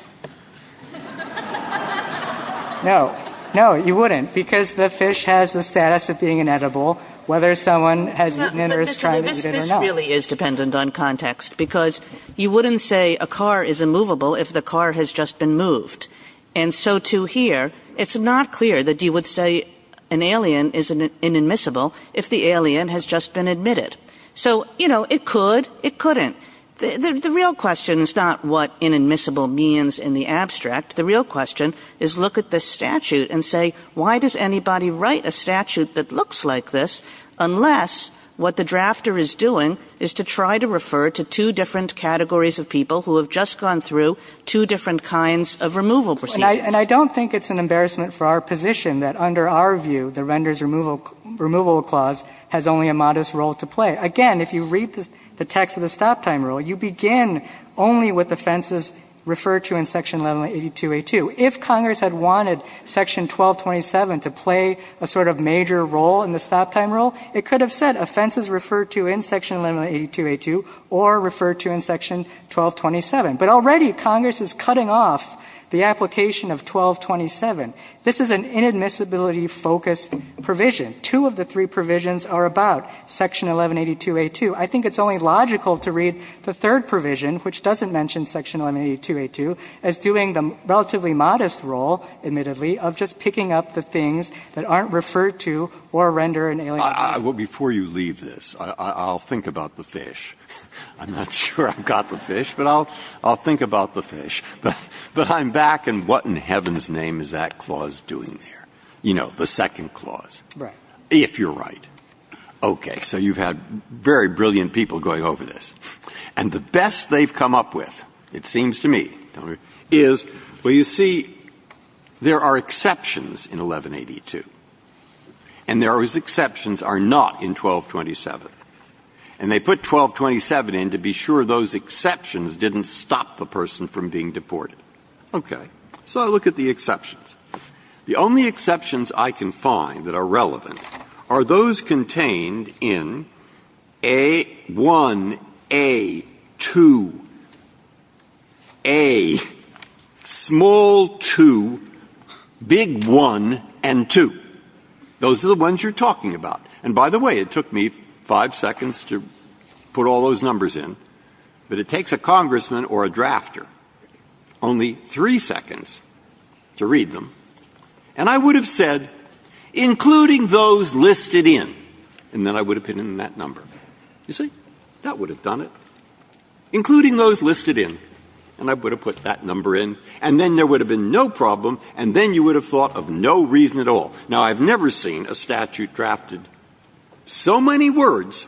No. No, you wouldn't. Because the fish has the status of being inedible, whether someone has eaten it or is trying to eat it or not. But this really is dependent on context, because you wouldn't say a car is immovable if the car has just been moved. And so to hear, it's not clear that you would say an alien is inadmissible if the alien has just been admitted. So, you know, it could, it couldn't. The real question is not what inadmissible means in the abstract. The real question is look at this statute and say, why does anybody write a statute that looks like this, unless what the drafter is doing is to try to refer to two different categories of people who have just gone through two different kinds of removal procedures. And I don't think it's an embarrassment for our position that under our view, the Render's Removal Clause has only a modest role to play. Again, if you read the text of the Stop Time Rule, you begin only with offenses referred to in Section 1182A2. If Congress had wanted Section 1227 to play a sort of major role in the Stop Time Rule, it could have said offenses referred to in Section 1182A2 or referred to in Section 1227. But already Congress is cutting off the application of 1227. This is an inadmissibility-focused provision. Two of the three provisions are about Section 1182A2. I think it's only logical to read the third provision, which doesn't mention Section 1182A2, as doing the relatively modest role, admittedly, of just picking up the things that aren't referred to or render an alienation. Breyer. Well, before you leave this, I'll think about the fish. I'm not sure I've got the fish, but I'll think about the fish. But I'm back, and what in heaven's name is that clause doing there? You know, the second clause. If you're right. Okay. So you've had very brilliant people going over this. And the best they've come up with, it seems to me, is, well, you see, there are exceptions in 1182, and those exceptions are not in 1227. And they put 1227 in to be sure those exceptions didn't stop the person from being deported. Okay. So I look at the exceptions. The only exceptions I can find that are relevant are those contained in A1, A2, A, small 2, big 1, and 2. Those are the ones you're talking about. And by the way, it took me five seconds to put all those numbers in. But it takes a Congressman or a drafter only three seconds to read them. And I would have said, including those listed in, and then I would have put in that number. You see? That would have done it. Including those listed in, and I would have put that number in. And then there would have been no problem, and then you would have thought of no reason at all. Now, I've never seen a statute drafted so many words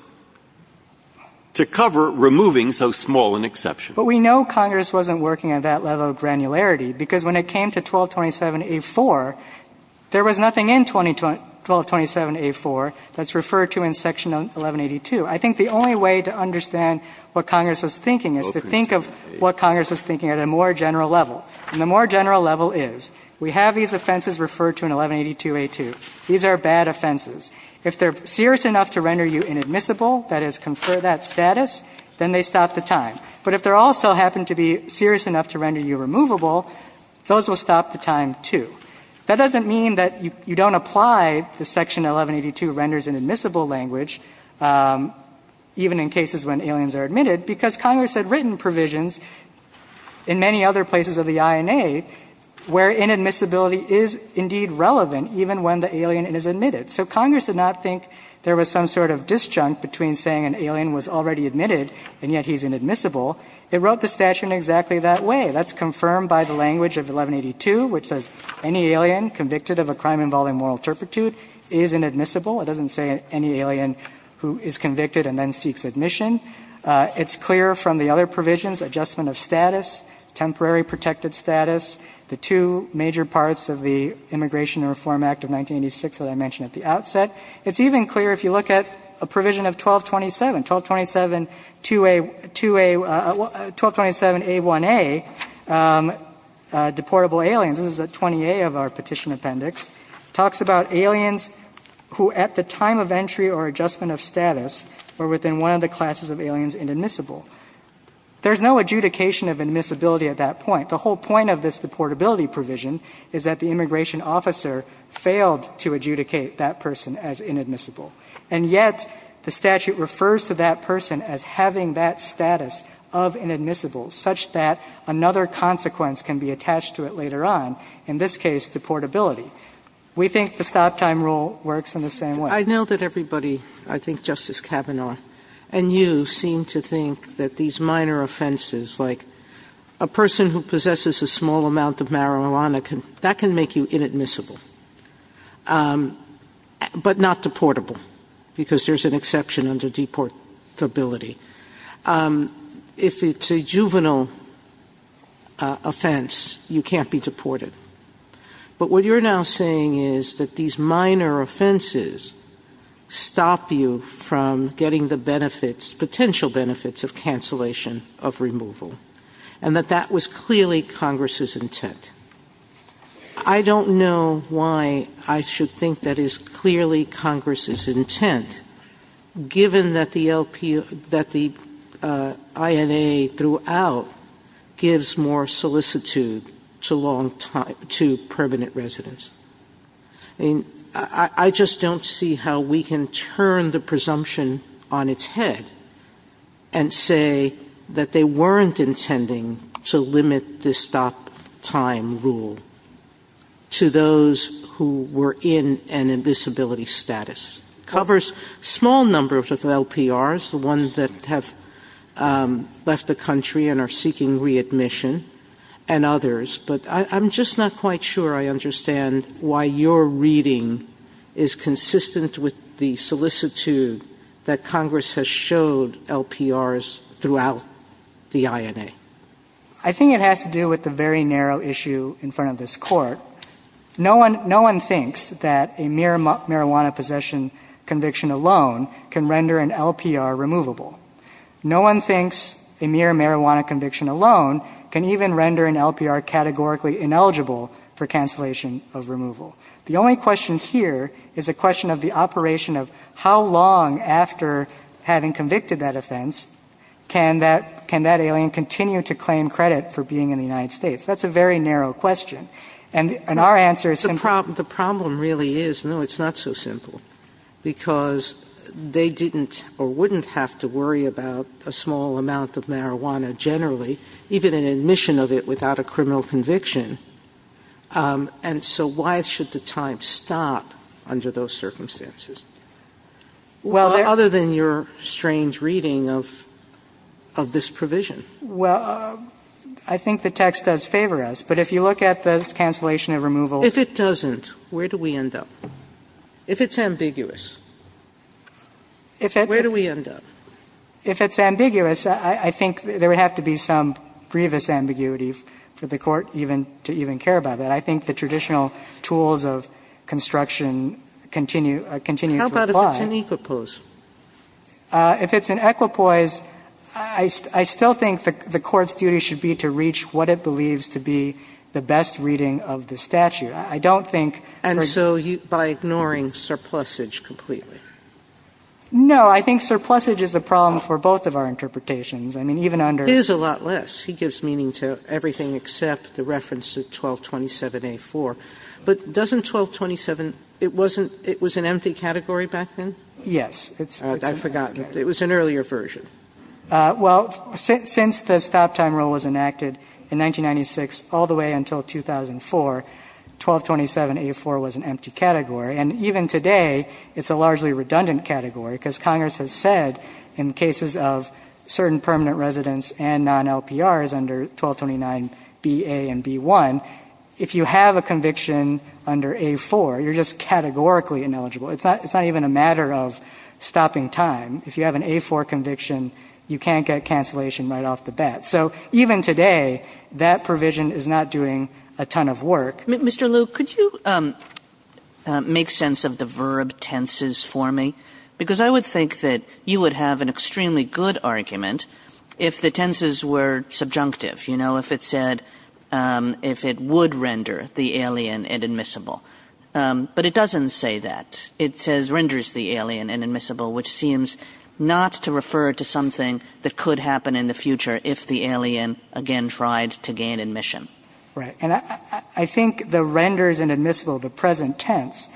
to cover removing so small an exception. But we know Congress wasn't working at that level of granularity, because when it came to 1227A4, there was nothing in 1227A4 that's referred to in Section 1182. I think the only way to understand what Congress was thinking is to think of what Congress was thinking at a more general level. And the more general level is, we have these offenses referred to in 1182A2. These are bad offenses. If they're serious enough to render you inadmissible, that is, confer that status, then they stop the time. But if they also happen to be serious enough to render you removable, those will stop the time, too. That doesn't mean that you don't apply the Section 1182 renders inadmissible language, even in cases when aliens are admitted, because Congress had written provisions in many other places of the INA where inadmissibility is indeed relevant even when the alien is admitted. So Congress did not think there was some sort of disjunct between saying an alien was already admitted and yet he's inadmissible. It wrote the statute in exactly that way. That's confirmed by the language of 1182, which says any alien convicted of a crime involving moral turpitude is inadmissible. It doesn't say any alien who is convicted and then seeks admission. It's clear from the other provisions, adjustment of status, temporary protected status, the two major parts of the Immigration and Reform Act of 1986 that I mentioned at the outset. It's even clear if you look at a provision of 1227, 1227-2A, 1227-A1A, deportable aliens. This is 20A of our petition appendix. It talks about aliens who at the time of entry or adjustment of status are within one of the classes of aliens inadmissible. There's no adjudication of admissibility at that point. The whole point of this deportability provision is that the immigration officer failed to adjudicate that person as inadmissible. And yet the statute refers to that person as having that status of inadmissible such that another consequence can be attached to it later on, in this case deportability. We think the stop time rule works in the same way. Sotomayor I know that everybody, I think Justice Kavanaugh and you, seem to think that these minor offenses like a person who possesses a small amount of marijuana can, that can make you inadmissible. But not deportable because there's an exception under deportability. If it's a juvenile offense, you can't be deported. But what you're now saying is that these minor offenses stop you from getting the benefits, potential benefits of cancellation of removal. And that that was clearly Congress' intent. I don't know why I should think that is clearly Congress' intent, given that the LPO, that the INA throughout gives more solicitude to long time, to permanent residents. I mean, I just don't see how we can turn the presumption on its head and say that they weren't intending to limit this stop time. Rule to those who were in an invisibility status. Covers small numbers of LPRs, the ones that have left the country and are seeking readmission, and others. But I'm just not quite sure I understand why your reading is consistent with the solicitude that Congress has showed LPRs throughout the INA. I think it has to do with the very narrow issue in front of this court. No one thinks that a mere marijuana possession conviction alone can render an LPR removable. No one thinks a mere marijuana conviction alone can even render an LPR categorically ineligible for cancellation of removal. The only question here is a question of the operation of how long after having convicted that offense, can that alien continue to claim credit for being in the United States? That's a very narrow question. And our answer is simply- The problem really is, no, it's not so simple. Because they didn't or wouldn't have to worry about a small amount of marijuana generally, even an admission of it without a criminal conviction. And so why should the time stop under those circumstances? Well, other than your strange reading of this provision. Well, I think the text does favor us. But if you look at this cancellation of removal- If it doesn't, where do we end up? If it's ambiguous, where do we end up? If it's ambiguous, I think there would have to be some grievous ambiguity for the court even to even care about that. I think the traditional tools of construction continue to apply. How about if it's in equipoise? If it's in equipoise, I still think the court's duty should be to reach what it believes to be the best reading of the statute. I don't think- And so by ignoring surplusage completely? No. I think surplusage is a problem for both of our interpretations. I mean, even under- It is a lot less. He gives meaning to everything except the reference to 1227a-4. But doesn't 1227, it wasn't, it was an empty category back then? Yes. I've forgotten. It was an earlier version. Well, since the stop-time rule was enacted in 1996 all the way until 2004, 1227a-4 was an empty category. And even today, it's a largely redundant category, because Congress has said in cases of certain permanent residents and non-LPRs under 1229b-a and b-1, if you have a conviction under a-4, you're just categorically ineligible. It's not even a matter of stopping time. If you have an a-4 conviction, you can't get cancellation right off the bat. So even today, that provision is not doing a ton of work. Mr. Liu, could you make sense of the verb tenses for me? Because I would think that you would have an extremely good argument if the tenses were subjunctive, you know, if it said, if it would render the alien inadmissible. But it doesn't say that. It says renders the alien inadmissible, which seems not to refer to something that could happen in the future if the alien, again, tried to gain admission. Right. And I think the renders inadmissible, the present tense,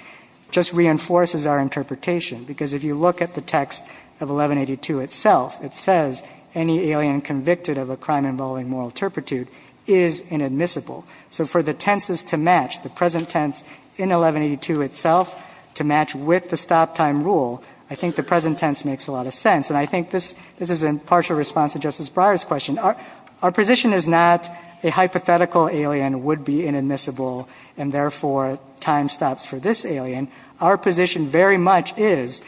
just reinforces our interpretation, because if you look at the text of 1182 itself, it says any alien convicted of a crime involving moral turpitude is inadmissible. So for the tenses to match, the present tense in 1182 itself to match with the stop time rule, I think the present tense makes a lot of sense. And I think this is in partial response to Justice Breyer's question. Our position is not a hypothetical alien would be inadmissible, and therefore, time stops for this alien. Our position very much is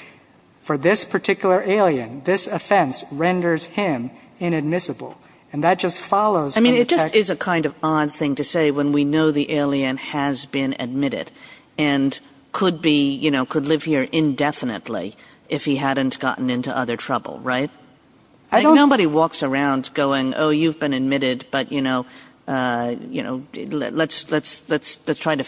for this particular alien, this offense renders him inadmissible. And that just follows from the text. I mean, it just is a kind of odd thing to say when we know the alien has been admitted and could be, you know, could live here indefinitely if he hadn't gotten into other trouble. Right. I don't. Nobody walks around going, oh, you've been admitted, but, you know, you know, let's try to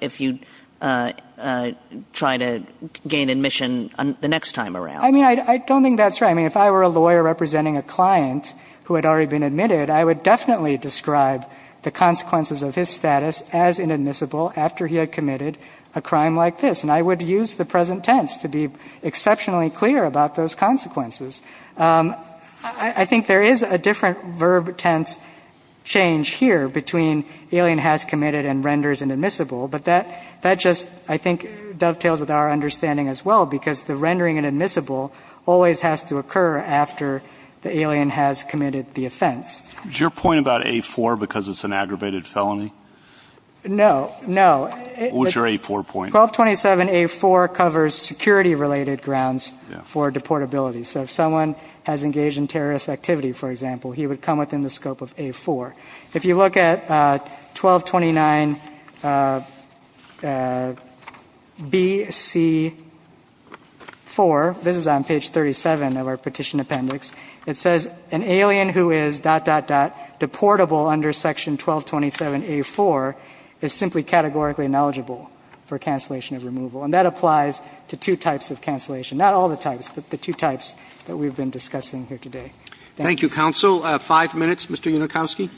if you try to gain admission the next time around. I mean, I don't think that's right. I mean, if I were a lawyer representing a client who had already been admitted, I would definitely describe the consequences of his status as inadmissible after he had committed a crime like this. And I would use the present tense to be exceptionally clear about those consequences. I think there is a different verb tense change here between alien has committed and renders inadmissible. But that just, I think, dovetails with our understanding as well, because the rendering inadmissible always has to occur after the alien has committed the offense. Is your point about A-4 because it's an aggravated felony? No, no. What's your A-4 point? 1227 A-4 covers security-related grounds for deportability. So if someone has engaged in terrorist activity, for example, he would come within the scope of A-4. If you look at 1229 B-C-4, this is on page 37 of our petition appendix, it says, an alien who is dot, dot, dot, deportable under section 1227 A-4 is simply categorically ineligible for cancellation of removal. And that applies to two types of cancellation, not all the types, but the two types that we've been discussing here today. Thank you. Thank you, counsel. Five minutes, Mr. Unikowski.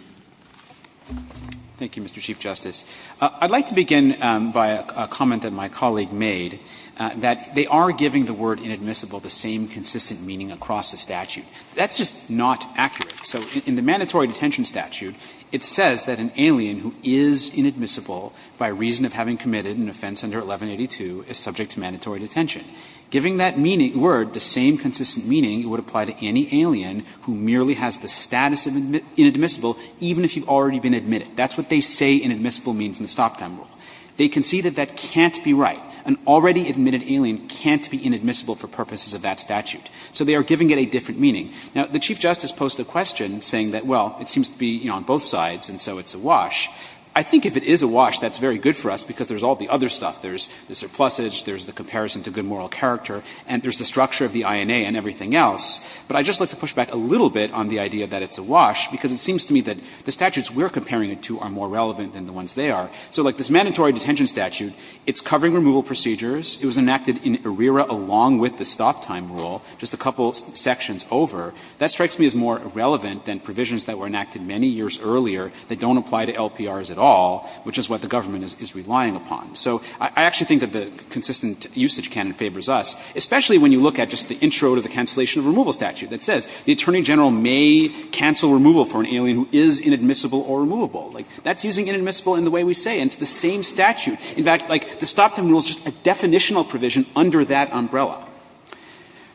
Thank you, Mr. Chief Justice. I'd like to begin by a comment that my colleague made, that they are giving the word inadmissible the same consistent meaning across the statute. That's just not accurate. So in the mandatory detention statute, it says that an alien who is inadmissible by reason of having committed an offense under 1182 is subject to mandatory detention. Giving that word the same consistent meaning would apply to any alien who merely has the status of inadmissible, even if you've already been admitted. That's what they say inadmissible means in the stop time rule. They concede that that can't be right. An already admitted alien can't be inadmissible for purposes of that statute. So they are giving it a different meaning. Now, the Chief Justice posed a question saying that, well, it seems to be, you know, on both sides, and so it's a wash. I think if it is a wash, that's very good for us because there's all the other stuff. There's the surplusage, there's the comparison to good moral character, and there's the structure of the INA and everything else. But I'd just like to push back a little bit on the idea that it's a wash because it seems to me that the statutes we're comparing it to are more relevant than the ones they are. So like this mandatory detention statute, it's covering removal procedures. It was enacted in ARERA along with the stop time rule, just a couple sections over. That strikes me as more relevant than provisions that were enacted many years earlier that don't apply to LPRs at all, which is what the government is relying upon. So I actually think that the consistent usage canon favors us, especially when you look at just the intro to the cancellation of removal statute that says the attorney general may cancel removal for an alien who is inadmissible or removable. Like, that's using inadmissible in the way we say, and it's the same statute. In fact, like, the stop time rule is just a definitional provision under that umbrella.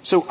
So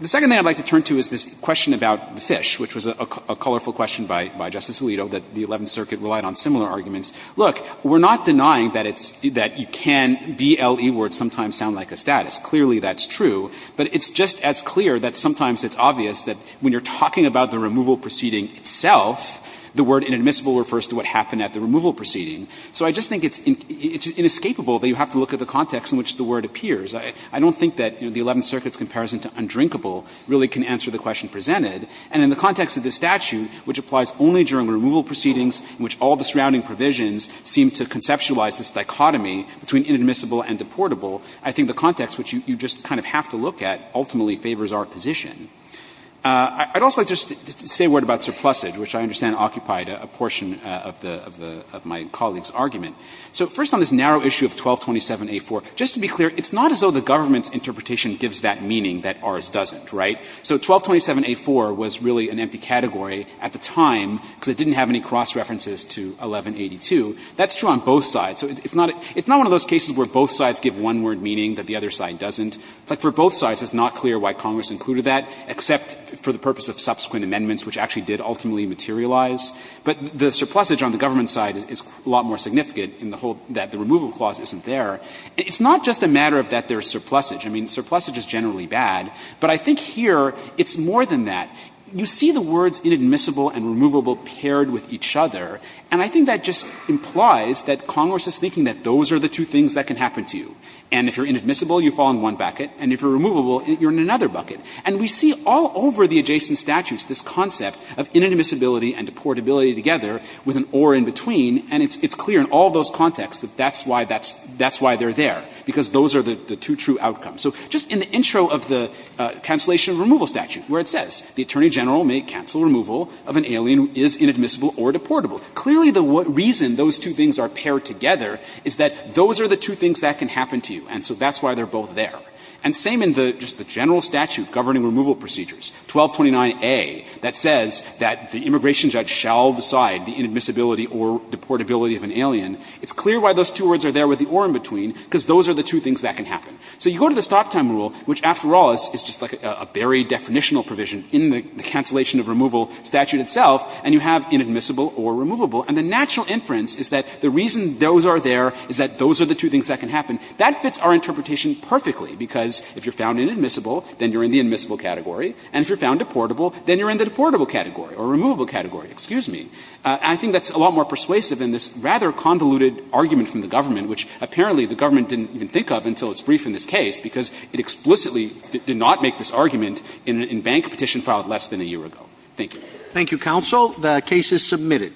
the second thing I'd like to turn to is this question about the fish, which was a colorful question by Justice Alito that the Eleventh Circuit relied on similar arguments. Look, we're not denying that it's – that you can BLE where it sometimes sounds like a status. Clearly, that's true. But it's just as clear that sometimes it's obvious that when you're talking about the removal proceeding itself, the word inadmissible refers to what happened at the removal proceeding. So I just think it's inescapable that you have to look at the context in which the word appears. I don't think that, you know, the Eleventh Circuit's comparison to undrinkable really can answer the question presented. And in the context of the statute, which applies only during removal proceedings in which all the surrounding provisions seem to conceptualize this dichotomy between inadmissible and deportable, I think the context, which you just kind of have to look at, ultimately favors our position. I'd also like to just say a word about surplusage, which I understand occupied a portion of the – of my colleague's argument. So first on this narrow issue of 1227a4, just to be clear, it's not as though the government's interpretation gives that meaning that ours doesn't, right? So 1227a4 was really an empty category at the time because it didn't have any cross references to 1182. That's true on both sides. So it's not a – it's not one of those cases where both sides give one word meaning that the other side doesn't. Like, for both sides, it's not clear why Congress included that, except for the purpose of subsequent amendments, which actually did ultimately materialize. But the surplusage on the government side is a lot more significant in the whole that the removal clause isn't there. It's not just a matter of that there's surplusage. I mean, surplusage is generally bad, but I think here it's more than that. You see the words inadmissible and removable paired with each other, and I think that just implies that Congress is thinking that those are the two things that can happen to you. And if you're inadmissible, you fall in one bucket, and if you're removable, you're in another bucket. And we see all over the adjacent statutes this concept of inadmissibility and deportability together with an or in between, and it's clear in all those contexts that that's why that's – that's why they're there, because those are the two true outcomes. So just in the intro of the cancellation removal statute, where it says the Attorney General may cancel removal of an alien who is inadmissible or deportable, clearly the reason those two things are paired together is that those are the two things that can happen to you, and so that's why they're both there. And same in the – just the general statute governing removal procedures, 1229a, that says that the immigration judge shall decide the inadmissibility or deportability of an alien. It's clear why those two words are there with the or in between, because those are the two things that can happen. So you go to the stop time rule, which, after all, is just like a very definitional provision in the cancellation of removal statute itself, and you have inadmissible or removable, and the natural inference is that the reason those are there is that those are the two things that can happen. That fits our interpretation perfectly, because if you're found inadmissible, then you're in the admissible category, and if you're found deportable, then you're in the deportable category or removable category. Excuse me. I think that's a lot more persuasive than this rather convoluted argument from the government, which apparently the government didn't even think of until it's briefed in this case, because it explicitly did not make this argument in a bank petition filed less than a year ago. Thank you. Thank you, counsel. The case is submitted.